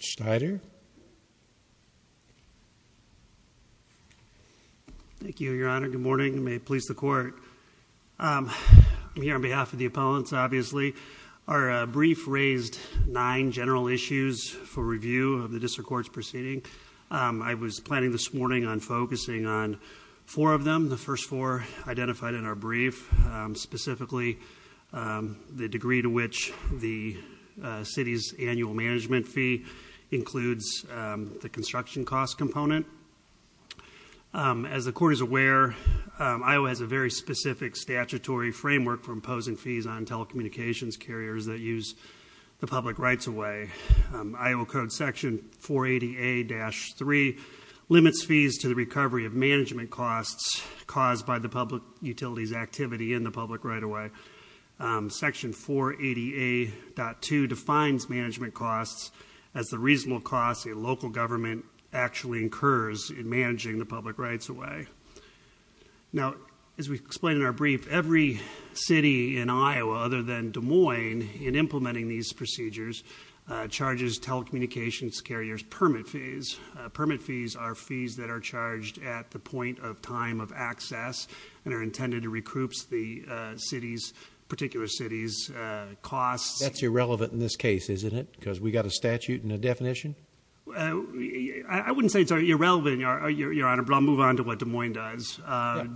Schneider thank you your honor good morning may it please the court I'm here on behalf of the opponents obviously our brief raised nine general issues for review of the district courts proceeding I was planning this morning on focusing on four of them the first four identified in our brief specifically the city's annual management fee includes the construction cost component as the court is aware Iowa has a very specific statutory framework for imposing fees on telecommunications carriers that use the public rights away I will code section 480 a-3 limits fees to the recovery of management costs caused by the public utilities activity in the public right away section 480 a-2 defines management costs as the reasonable costs a local government actually incurs in managing the public rights away now as we explain in our brief every city in Iowa other than Des Moines in implementing these procedures charges telecommunications carriers permit fees permit fees are fees that are charged at the point of time of access and are intended to recoups the city's particular cities costs that's irrelevant in this case isn't it because we got a statute and a definition I wouldn't say it's irrelevant your honor but I'll move on to what Des Moines does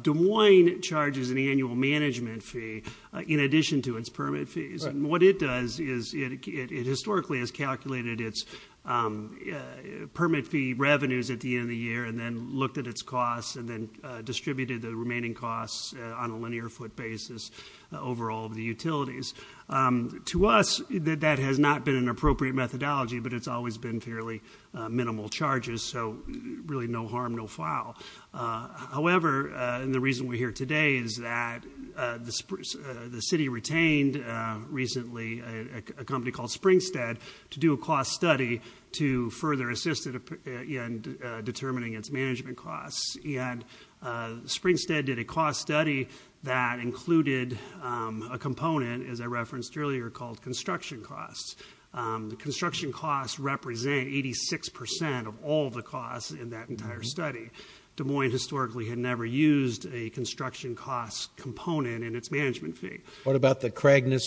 Des Moines charges an annual management fee in addition to its permit fees and what it does is it historically has calculated its permit fee revenues at the end of the year and then looked at its costs and then distributed the remaining costs on a linear foot basis over all the utilities to us that that has not been an appropriate methodology but it's always been fairly minimal charges so really no harm no foul however and the reason we're here today is that the spruce the city retained recently a company called Springstead to do a cost study to further assist in determining its management costs and Springstead did a cost study that included a component as I referenced earlier called construction costs the construction costs represent 86% of all the costs in that entire study Des Moines historically had never used a construction cost component in its management fee what about the cragness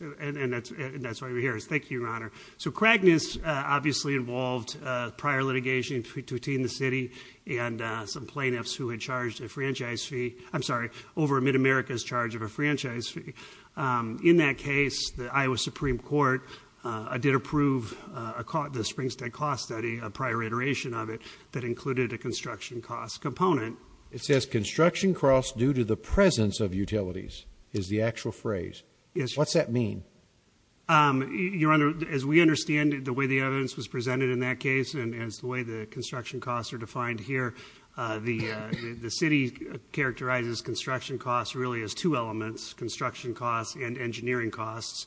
and that's why we're here is thank you your honor so cragness obviously involved prior litigation between the city and some plaintiffs who had charged a franchise fee I'm sorry over a mid America's charge of a franchise fee in that case the Iowa Supreme Court I did approve a caught the Springstead cost study a prior iteration of it that included a construction cost component it says construction costs due to the presence of utilities is the actual phrase yes what's that mean your honor as we understand the way the evidence was presented in that case and as the way the construction costs are defined here the the city characterizes construction costs really as two elements construction costs and engineering costs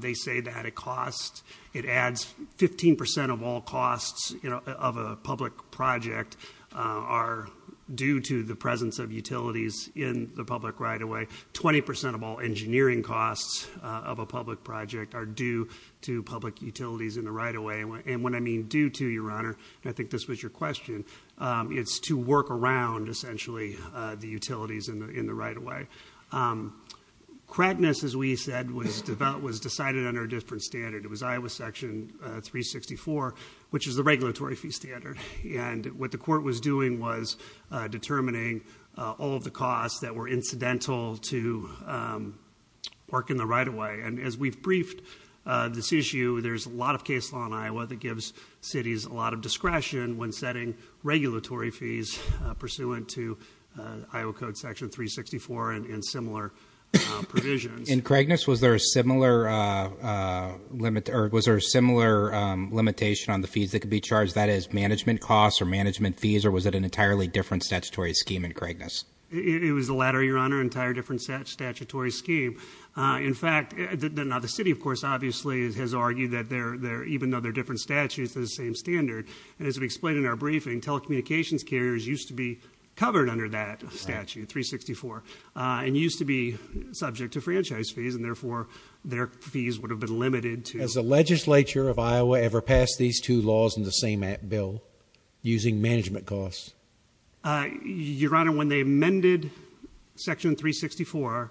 they say that it costs it adds 15% of all costs you know of a public project are due to the presence of utilities in the public right-of-way 20% of all engineering costs of a public project are due to public utilities in the right-of-way and when I mean due to your honor I think this was your question it's to work around essentially the utilities in the in the right-of-way cragness as we said was developed was decided under a different standard it was Iowa section 364 which is the all of the costs that were incidental to work in the right-of-way and as we've briefed this issue there's a lot of case law in Iowa that gives cities a lot of discretion when setting regulatory fees pursuant to Iowa Code section 364 and in similar provisions in cragness was there a similar limit or was there a similar limitation on the fees that could be charged that is management costs or management fees or was it an entirely different statutory scheme in cragness it was the latter your honor entire different statutory scheme in fact the city of course obviously has argued that they're there even though they're different statutes of the same standard and as we explained in our briefing telecommunications carriers used to be covered under that statute 364 and used to be subject to franchise fees and therefore their fees would have been limited to as a legislature of Iowa ever passed these two laws in the same bill using management costs your honor when they amended section 364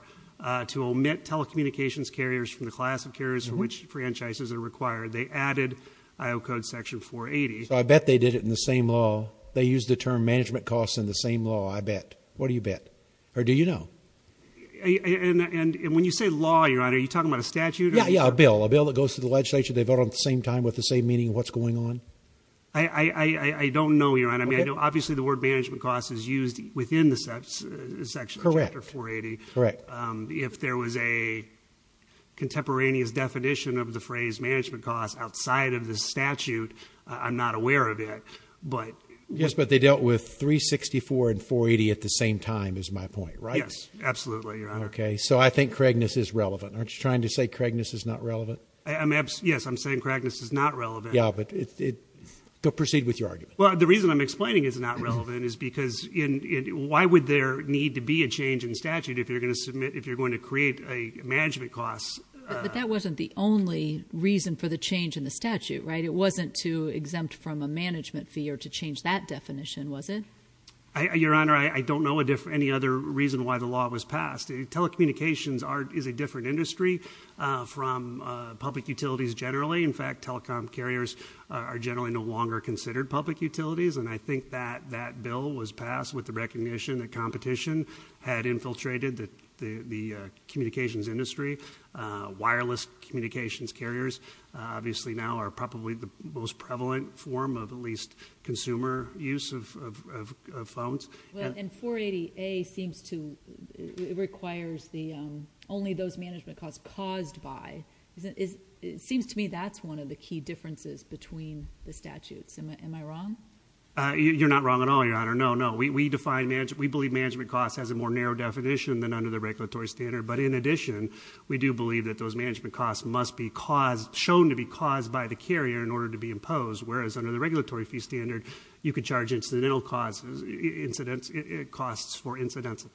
to omit telecommunications carriers from the class of carriers for which franchises are required they added I'll code section 480 I bet they did it in the same law they use the term management costs in the same law I bet what do you bet or do you know and when you say law your honor you talking about a statute yeah yeah a bill a bill that goes to the legislature they vote at the same time with the same meaning what's going on I I don't know your honor me I know obviously the word management costs is used within the steps section correct or 480 correct if there was a contemporaneous definition of the phrase management costs outside of the statute I'm not aware of it but yes but they dealt with 364 and 480 at the same time is my point right yes absolutely okay so I think cragness is relevant aren't you trying to say cragness is not relevant yes I'm saying cragness is not relevant yeah but it proceed with your argument well the reason I'm explaining is not relevant is because in why would there need to be a change in statute if you're gonna submit if you're going to create a management cost that wasn't the only reason for the change in the statute right it wasn't to exempt from a management fee or to change that definition was it your honor I don't know a different any other reason why the law was passed telecommunications art is a different industry from public utilities generally in fact telecom carriers are generally no longer considered public utilities and I think that that bill was passed with the recognition that competition had infiltrated that the communications industry wireless communications carriers obviously now are probably the most prevalent form of at least consumer use of phones and 480 a seems to it seems to me that's one of the key differences between the statutes am I wrong you're not wrong at all your honor no no we define magic we believe management costs has a more narrow definition than under the regulatory standard but in addition we do believe that those management costs must be caused shown to be caused by the carrier in order to be imposed whereas under the regulatory fee standard you could charge incidental causes incidents it costs for incidents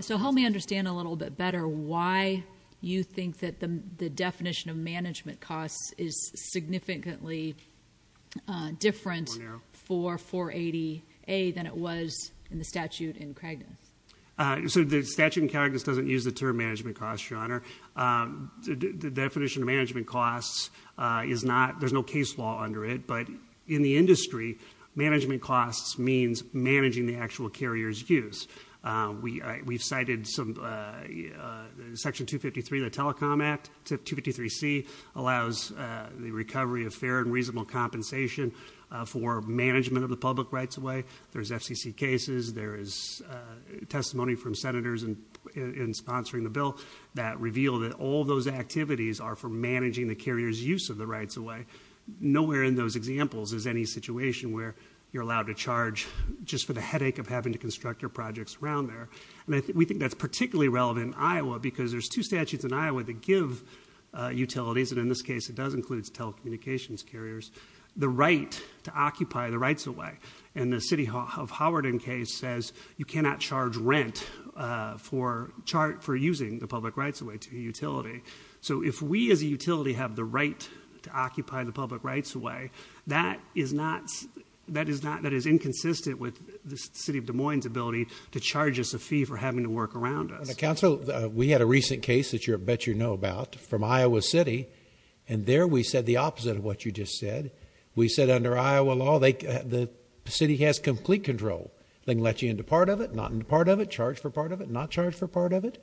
so help me understand a little bit better why you think that the definition of management costs is significantly different for 480 a than it was in the statute in Craig so the statute in character doesn't use the term management cost your honor the definition of management costs is not there's no case law under it but in the industry management costs means managing the actual carriers use we we've cited some section 253 the telecom act to 53 C allows the recovery of fair and reasonable compensation for management of the public rights away there's FCC cases there is testimony from senators and in sponsoring the bill that revealed that all those activities are for managing the carriers use of the rights away nowhere in those examples is any situation where you're allowed to charge just for the headache of having to construct your projects around there and I think we think that's particularly relevant Iowa because there's two statutes in Iowa to give utilities and in this case it does includes telecommunications carriers the right to occupy the rights away and the city hall have Howard in case says you cannot charge rent for chart for using the public rights away to utility so if we as a utility have the right to occupy the public rights away that is not that is not that is inconsistent with the city of Des Moines ability to charge us a fee for having to work around the council we had a recent case that you're bet you know about from Iowa City and there we said the opposite of what you just said we said under Iowa law they the city has complete control thing let you into part of it not in part of it charged for part of it not charged for part of it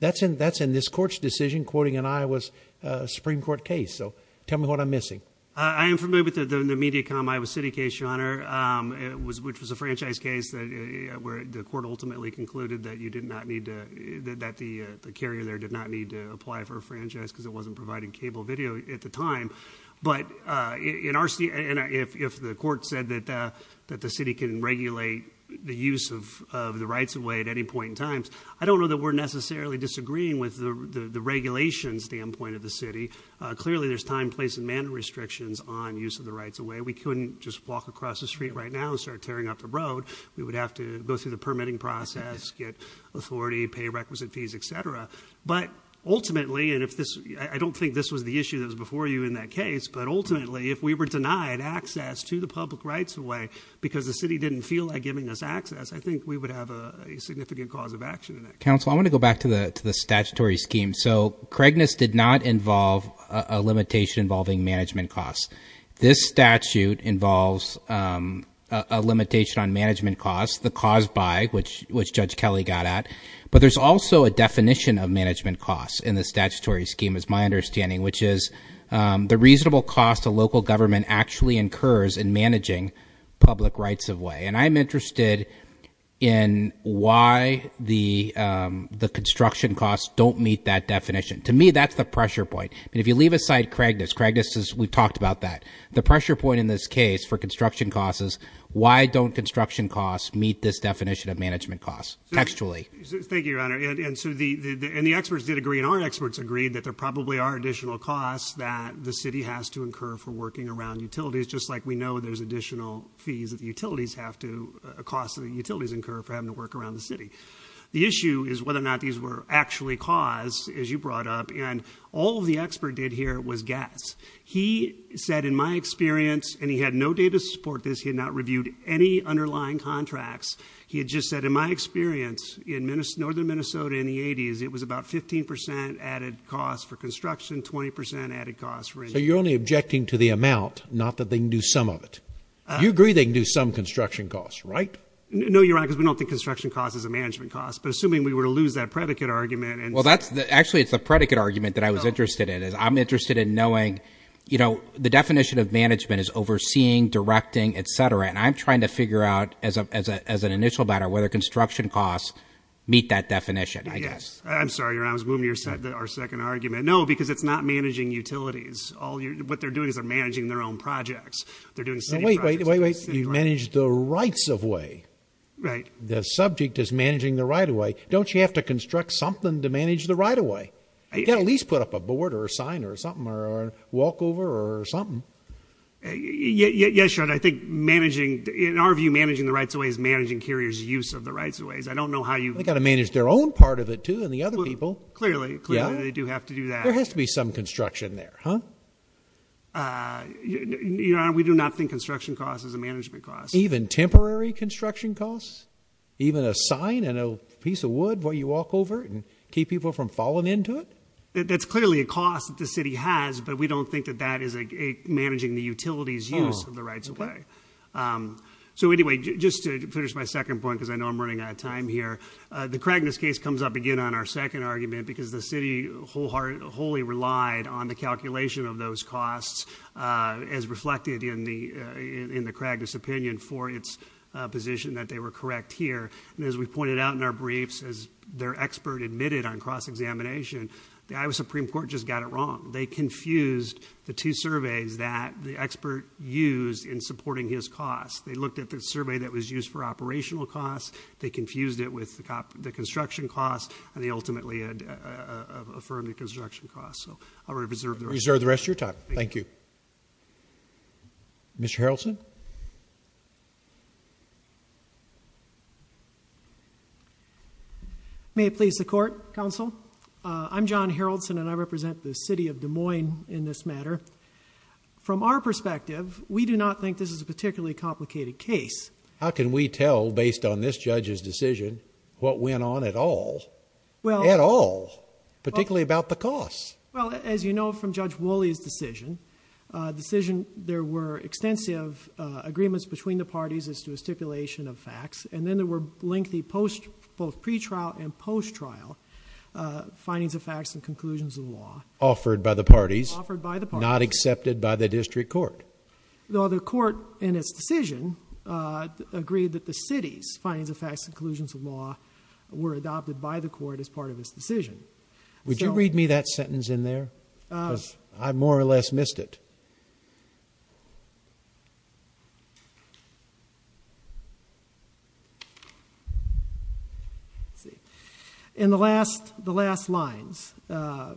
that's in that's in this court's decision quoting and I was Supreme Court case so tell me what I'm missing I am familiar with the the Mediacom Iowa City case which was a franchise case that where the court ultimately concluded that you did not need to that the carrier there did not need to apply for a franchise because it wasn't providing cable video at the time but in our city and if the court said that that the city can regulate the use of the rights away at any point in times I don't know that we're necessarily disagreeing with the the regulation standpoint of the city clearly there's time place and manner restrictions on use of the rights away we couldn't just walk across the street right now and start tearing up the road we would have to go through the permitting process get authority pay requisite fees etc but ultimately and if this I don't think this was the issue that was before you in that case but ultimately if we were denied access to the public rights away because the city didn't feel like giving us access I think we would have a significant cause of action in that council I want to go back to the to the statutory scheme so Craigness did not involve a limitation involving management costs this statute involves a limitation on management costs the cause by which which judge Kelly got at but there's also a definition of management costs in the statutory scheme is my understanding which is the reasonable cost of local government actually incurs in managing public rights away and I'm interested in why the the construction costs don't meet that definition to me that's the pressure point if you leave aside Craig this Craig this is we talked about that the pressure point in this case for construction costs is why don't construction costs meet this definition of management costs textually thank you your honor and so the and the experts did agree in our experts agreed that there probably are additional costs that the city has to incur for working around utilities just like we know there's additional fees that the utilities have to a cost of the utilities incurred for having to work around the city the issue is whether or not these were actually caused as you brought up and all the expert did here was gas he said in my experience and he had no data support this he had not reviewed any underlying contracts he had just said in my experience in minutes northern Minnesota in the 80s it was about 15% added cost for construction 20% added cost for you're only objecting to the amount not that they knew some of it you agree they knew some construction costs right no you're right because we don't think construction cost is a management cost but assuming we were to lose that predicate argument and well that's the actually it's a predicate argument that I was interested in is I'm interested in knowing you know the definition of management is overseeing directing etc and I'm trying to figure out as a as an initial matter whether construction costs meet that definition I guess I'm sorry I was moving your said that our second argument no because it's not managing utilities all you what they're doing is they're managing their own projects they're doing wait wait wait wait you manage the rights-of-way right the subject is managing the right-of-way don't you have to construct something to manage the right-of-way at least put up a board or a sign or something or walk over or something yeah yeah sure and I think managing in our view managing the rights-of-way is managing carriers use of the rights-of-ways I don't know how you got to manage their own part of it too and the other people clearly yeah they do have to do that there has to be some construction there huh you know we do not think construction costs as a management cost even temporary construction costs even a sign and a piece of wood where you walk over and keep people from falling into it that's clearly a cost that the city has but we don't think that that is a managing the utilities use of the rights-of-way so anyway just to finish my second point because I know I'm running out of time here the Craigness case comes up again on our second argument because the city wholeheartedly relied on the calculation of those costs as reflected in the in the Craigness opinion for its position that they were correct here and as we pointed out in our briefs as their expert admitted on cross-examination the Iowa Supreme Court just got it wrong they confused the two surveys that the expert used in supporting his costs they looked at the survey that was used for operational costs they confused it with the cop the construction cost and they ultimately had affirmed the construction cost so I'll reserve the reserve the rest your time thank you mr. Harrelson may it please the court counsel I'm John Harrelson and I represent the city of Des Moines in this matter from our perspective we do not think this is a particularly complicated case how can we tell based on this judge's decision what went on at all well at all particularly about the cost well as you know from Judge Wooley's decision decision there were extensive agreements between the parties as to a stipulation of facts and then there were lengthy post both pretrial and post trial findings of facts and conclusions of law offered by the parties offered by the party not accepted by the district court the other court in its decision agreed that the city's findings of facts conclusions of law were adopted by the court as part of this decision would you read me that sentence in there as I more or less missed it in the last the last lines the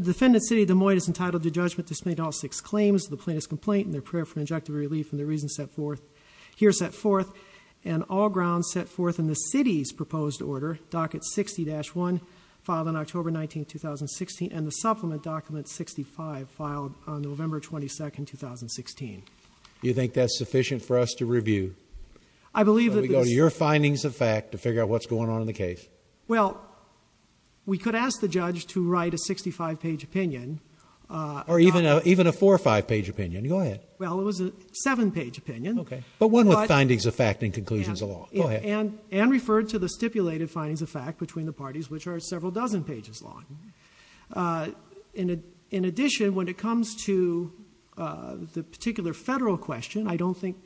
defendant's city the more it is entitled to judgment this made all six claims the plaintiff's complaint in their prayer for injective relief and the reason set forth here set forth and all grounds set forth in the city's proposed order docket 60-1 filed in October 19 2016 and the supplement document 65 filed on November 22nd 2016 you think that's sufficient for us to review I believe that we go to your findings of fact to figure out what's going on in the case well we could ask the judge to write a 65 page opinion or even a even a four or five page opinion go ahead well it was a seven page opinion okay but one with findings of fact and conclusions along and and referred to the stipulated findings of fact between the parties which are in addition when it comes to the particular federal question I don't think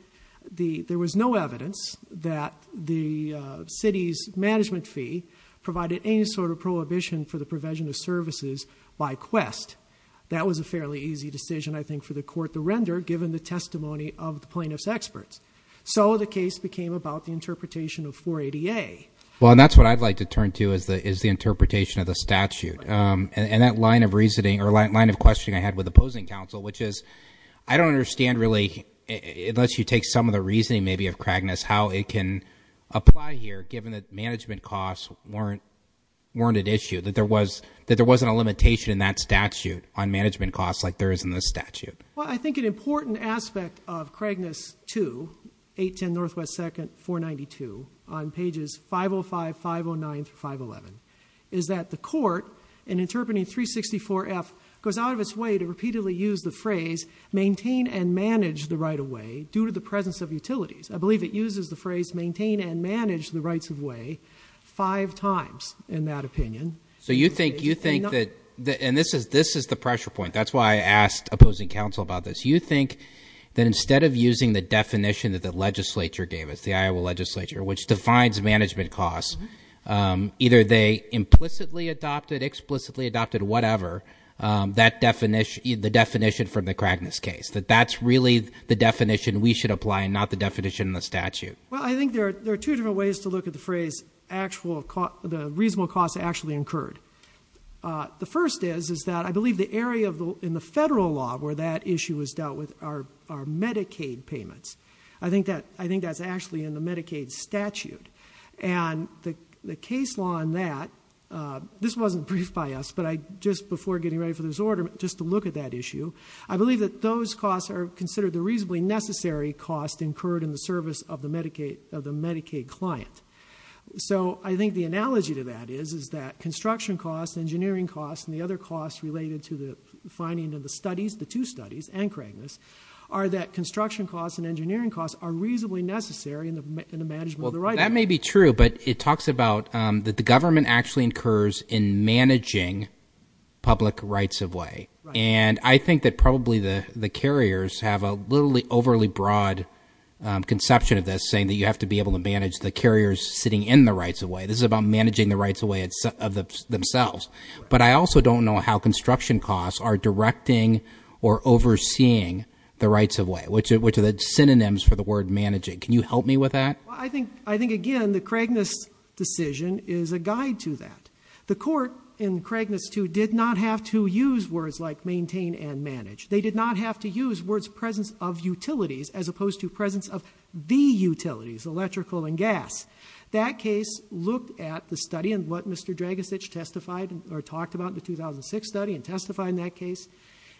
the there was no evidence that the city's management fee provided any sort of prohibition for the provision of services by quest that was a fairly easy decision I think for the court to render given the testimony of the plaintiffs experts so the case became about the interpretation of 480 a well that's what I'd like to turn to is that is the interpretation of the statute and that line of reasoning or like line of questioning I had with opposing counsel which is I don't understand really it lets you take some of the reasoning maybe of Kragness how it can apply here given that management costs weren't warranted issue that there was that there wasn't a limitation in that statute on management costs like there is in this statute well I think an important aspect of Kragness to 810 Northwest second 492 on pages 505 509 511 is that the court in interpreting 364 F goes out of its way to repeatedly use the phrase maintain and manage the right-of-way due to the presence of utilities I believe it uses the phrase maintain and manage the rights-of-way five times in that opinion so you think you think that and this is this is the pressure point that's why I asked opposing counsel about this you think that instead of using the definition that the legislature gave us the Iowa legislature which defines management costs either they implicitly adopted explicitly adopted whatever that definition the definition from the Kragness case that that's really the definition we should apply and not the definition of the statute well I think there are two different ways to look at the phrase actual cost the reasonable cost actually incurred the first is is that I believe the area of the in the federal law where that issue is dealt with our Medicaid payments I think that I think that's actually in the Medicaid statute and the case law on that this wasn't briefed by us but I just before getting ready for this order just to look at that issue I believe that those costs are considered the reasonably necessary cost incurred in the service of the Medicaid of the Medicaid client so I think the analogy to that is is that construction costs engineering costs and the other costs related to the finding of the studies the two studies and Kragness are that maybe true but it talks about that the government actually incurs in managing public rights-of-way and I think that probably the the carriers have a literally overly broad conception of this saying that you have to be able to manage the carriers sitting in the rights-of-way this is about managing the rights-of-way it's of the themselves but I also don't know how construction costs are directing or overseeing the rights-of-way which it which are the synonyms for the word managing can you help me with that I think I think again the Kragness decision is a guide to that the court in Kragness to did not have to use words like maintain and manage they did not have to use words presence of utilities as opposed to presence of the utilities electrical and gas that case look at the study and what mr. drag a stitch testified or talked about the 2006 study and testify in that case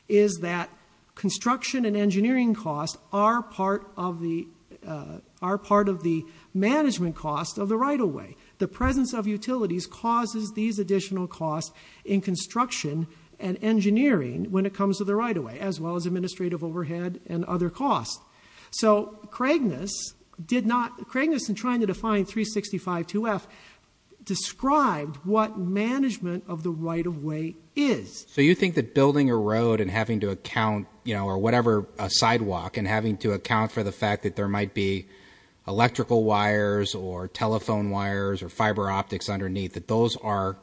is that construction and engineering costs are part of the are part of the management cost of the right-of-way the presence of utilities causes these additional costs in construction and engineering when it comes to the right-of-way as well as administrative overhead and other costs so Kragness did not Kragness and trying to define 365 2f described what management of the right-of-way is so you think that building a road and having to account you know or whatever sidewalk and having to account for the fact that there might be electrical wires or telephone wires or fiber optics underneath that those are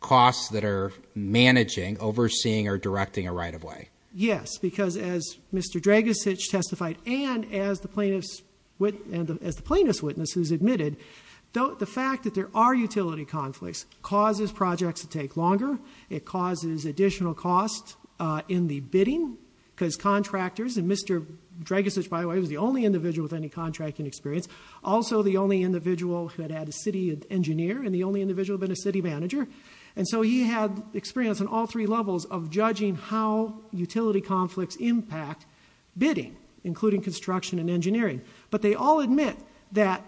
costs that are managing overseeing or directing a right-of-way yes because as mr. drag a stitch testified and as the plaintiffs with and as the plaintiff's witness who's admitted don't the fact that there are utility conflicts causes projects to take longer it causes additional cost in the bidding because contractors and mr. drag a such by the way was the only individual with any contracting experience also the only individual who had had a city engineer and the only individual been a city manager and so he had experience in all three levels of judging how utility conflicts impact bidding including construction and engineering but they all admit that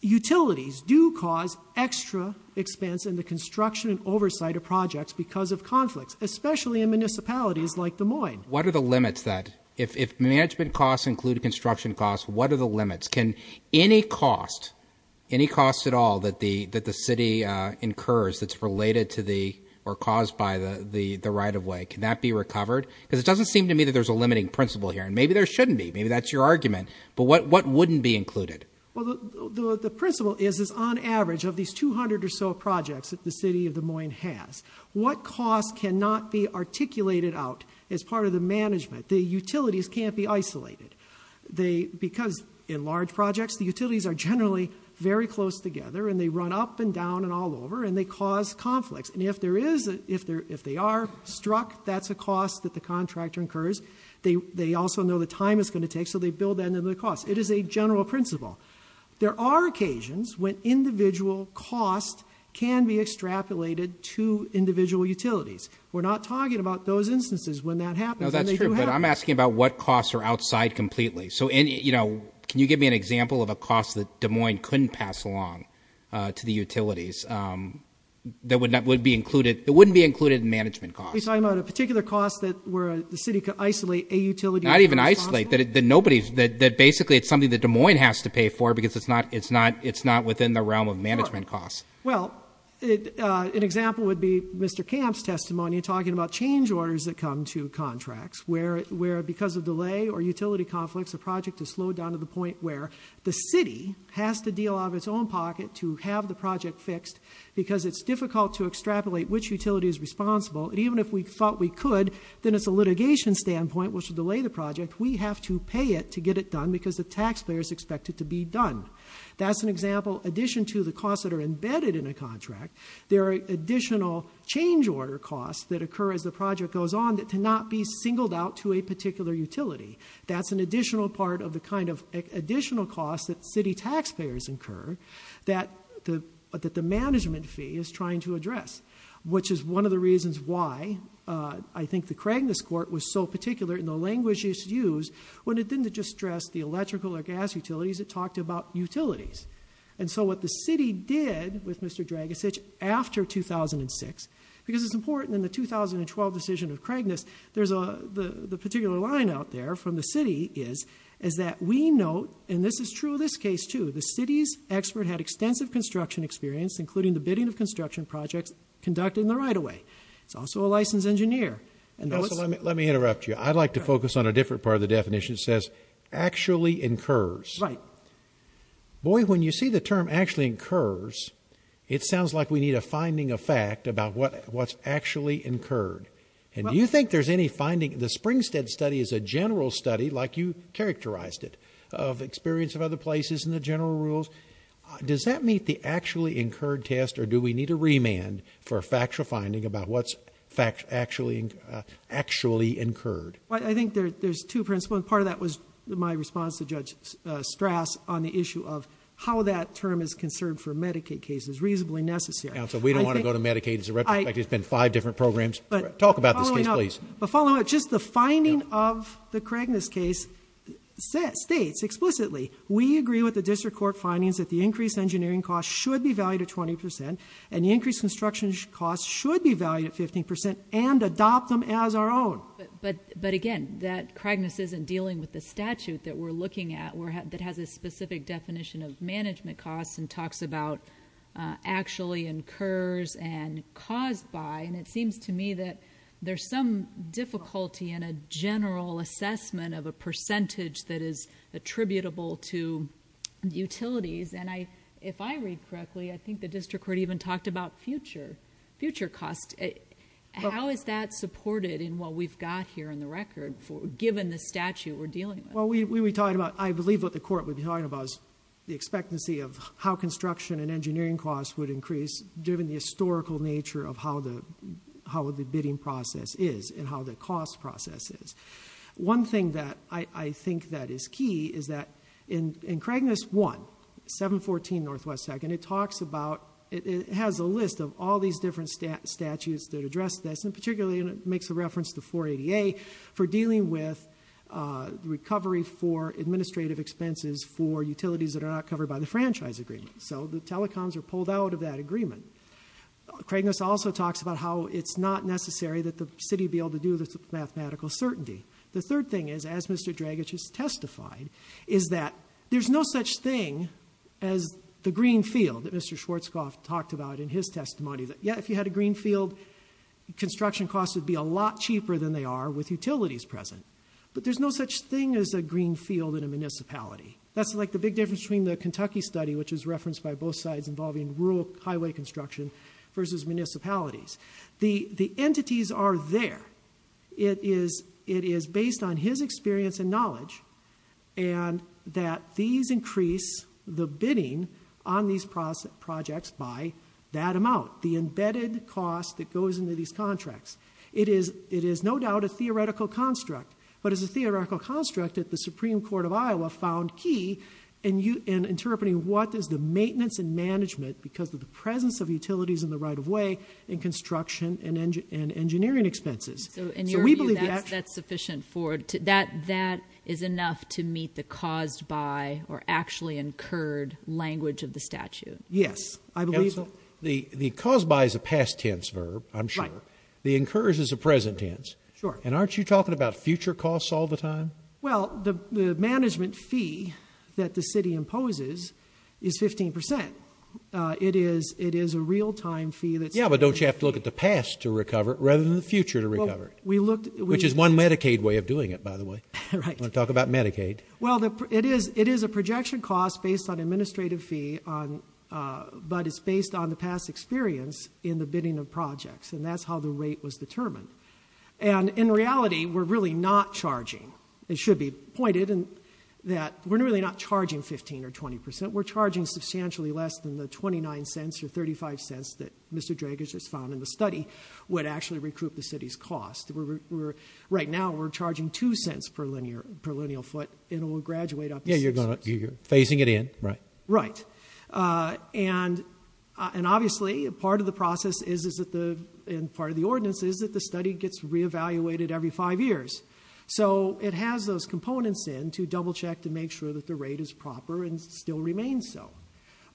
utilities do cause extra expense in the construction and projects because of conflicts especially in municipalities like Des Moines what are the limits that if management costs include construction costs what are the limits can any cost any cost at all that the that the city incurs that's related to the or caused by the the the right-of-way can that be recovered because it doesn't seem to me that there's a limiting principle here and maybe there shouldn't be maybe that's your argument but what what wouldn't be included well the principle is is on average of these 200 or so projects at the city of Des Moines has what costs cannot be articulated out as part of the management the utilities can't be isolated they because in large projects the utilities are generally very close together and they run up and down and all over and they cause conflicts and if there is if there if they are struck that's a cost that the contractor incurs they they also know the time is going to take so they build that into the cost it is a general principle there are occasions when individual cost can be extrapolated to individual utilities we're not talking about those instances when that happens that's true but I'm asking about what costs are outside completely so in you know can you give me an example of a cost that Des Moines couldn't pass along to the utilities that would not would be included it wouldn't be included in management cost I'm not a particular cost that where the city could isolate a utility not even isolate that it then nobody's that that basically it's something that Des Moines has to pay for because it's not it's not it's not within the realm of management costs well it an example would be mr. camps testimony talking about change orders that come to contracts where where because of delay or utility conflicts a project to slow down to the point where the city has to deal out of its own pocket to have the project fixed because it's difficult to extrapolate which utility is responsible and even if we thought we could then it's a litigation standpoint which would delay the project we have to pay it to taxpayers expected to be done that's an example addition to the cost that are embedded in a contract there are additional change order costs that occur as the project goes on that to not be singled out to a particular utility that's an additional part of the kind of additional costs that city taxpayers incur that the but that the management fee is trying to address which is one of the reasons why I think the Craig this court was so particular in the language used when it didn't just stress the electrical or gas utilities it talked about utilities and so what the city did with mr. drag a sitch after 2006 because it's important in the 2012 decision of Craig this there's a the particular line out there from the city is is that we know and this is true this case to the city's expert had extensive construction experience including the bidding of construction projects conducted in the right away it's also a different part of the definition says actually incurs right boy when you see the term actually incurs it sounds like we need a finding a fact about what what's actually incurred and you think there's any finding the springstead study is a general study like you characterized it of experience of other places in the general rules does that meet the actually incurred test or do we need a remand for factual finding about what's fact actually actually incurred I think that there's two principal part of that was my response to judge stress on the issue of how that term is concerned for Medicaid cases reasonably necessary so we don't want to go to Medicaid is right I just been five different programs but talk about the police but follow it just the finding of the Craig this case says states explicitly we agree with the district court findings that the increase engineering costs should be valued at twenty percent and increase construction costs should be valued at fifteen percent and adopt them as our own but but again that Cragness isn't dealing with the statute that we're looking at where that has a specific definition of management costs and talks about actually incurs and caused by and it seems to me that there's some difficulty in a general assessment of a percentage that is attributable to utilities and I if I read correctly I think the district court even talked about future future cost it how is that supported in what we've got here in the record for given the statute we're dealing well we we talked about I believe what the court was behind of us the expectancy of how construction and engineering costs would increase during the historical nature of how the how the bidding process is and how the cost processes one thing that I I think that is key is that in in Craig this one 714 Northwest second it talks about it has a list of all these different stat statutes that address this in particular makes a reference to 488 for dealing with recovery for administrative expenses for utilities that are not covered by the franchise agreement so the telecoms are pulled out of that agreement Craig this also talks about how it's not necessary that the city be able to do this mathematical certainty the third thing is as Mr. drag it is testified is that there's no such thing as the greenfield that Mr. Schwartz cough talked about in his testimony that yet if you had a greenfield construction costs would be a lot cheaper than they are with utilities present but there's no such thing as a greenfield in a municipality that's like the big difference between the Kentucky study which is referenced by both sides involving rural highway construction versus municipalities the the entities are there it is it is based on his experience and knowledge and that these increase the bidding on these process projects by that amount the embedded cost that goes into these contracts it is it is no doubt a theoretical construct but as a theoretical construct at the Supreme Court of Iowa found key and you in interpreting what is the maintenance and management because of the presence of utilities in the right of way in construction and engine and engineering expenses and we believe that's sufficient for that that is enough to meet the caused by or actually incurred language of the statute yes I don't know the the cause buys a past tense verb I'm sure the incurs is a present tense sure and aren't you talking about future costs all the time well the management fee that the city imposes is 15% it is it is a real-time fee that's yeah but don't you have to look at the past to recover it rather than the future to recover we looked which is one Medicaid way of doing it by the way talk about Medicaid well the it is it is a projection cost based on administrative fee on but it's based on the past experience in the bidding of projects and that's how the rate was determined and in reality we're really not charging it should be pointed in that we're really not charging 15 or 20% we're charging substantially less than the 29 cents or 35 cents that mr. drag is just found in the study would actually recoup the city's cost we're right now we're charging two cents per linear per lineal foot it'll graduate up yeah you're gonna you're facing it in right right and and obviously a part of the process is is that the in part of the ordinance is that the study gets reevaluated every five years so it has those components in to double-check to make sure that the rate is proper and still remains so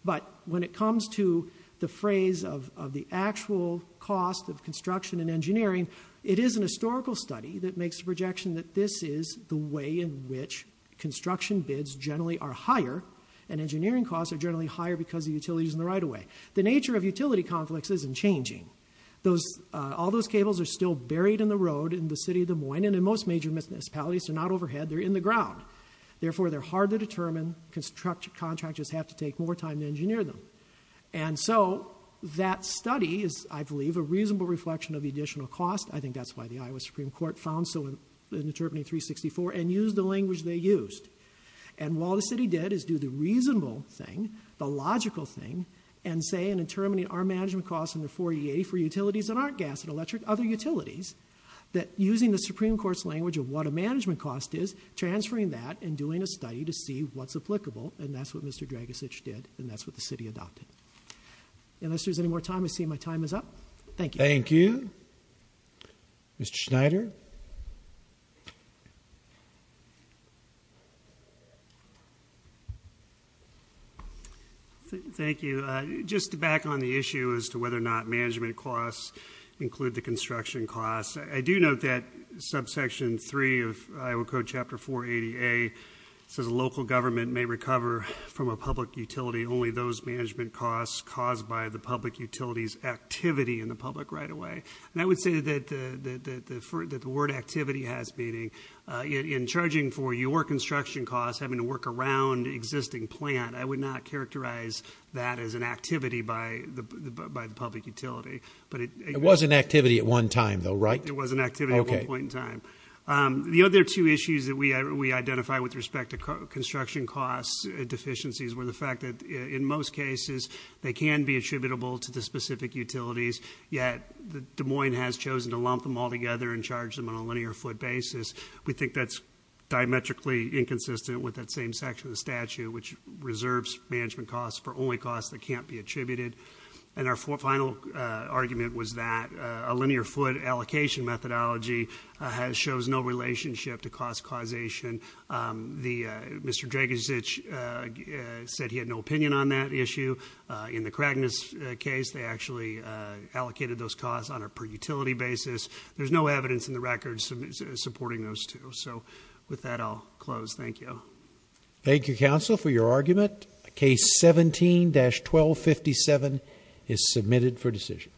but when it comes to the phrase of the actual cost of construction and engineering it is an historical study that makes a projection that this is the way in which construction bids generally are higher and engineering costs are generally higher because the utilities in the right-of-way the nature of utility complex isn't changing those all those cables are still buried in the road in the city of Des Moines and in most major miss miss pallets are not overhead they're in the ground therefore they're hard to determine construct contract just have to take more time to engineer them and so that study is I believe a reasonable reflection of the additional cost I think that's why the Iowa Supreme Court found so in the determining 364 and use the language they used and while the city did is do the reasonable thing the logical thing and say in determining our management costs in the 484 utilities that aren't gas and electric other utilities that using the Supreme Court's language of what a management cost is transferring that and doing a study to see what's applicable and that's what mr. drag a stitch did and that's what the city adopted unless there's any more time I see my time is up thank you thank you mr. Schneider thank you just back on the issue as to whether or not management costs include the construction costs I do note that subsection 3 of Iowa Code chapter 480 a says local government may recover from a public utility only those management costs caused by the public utilities activity in the public right away and I would say that the word activity has meaning in charging for your construction costs having to work around existing plant I would not characterize that as an activity by the by the public utility but it was an activity at one time though right it was an activity okay one time the other two issues that we identify with respect to construction costs deficiencies were the fact that in most cases they can be attributable to the specific utilities yet the Des Moines has chosen to lump them all together and charge them on a linear foot basis we think that's diametrically inconsistent with that same section of the statute which reserves management costs for only costs that can't be attributed and our final argument was that a linear foot allocation methodology has shows no relationship to cost causation the mr. Drake is itch said he had no opinion on that issue in the crackness case they actually allocated those costs on a per utility basis there's no evidence in the records supporting those two so with that I'll close thank you thank you counsel for your argument case 17-12 57 is submitted for decision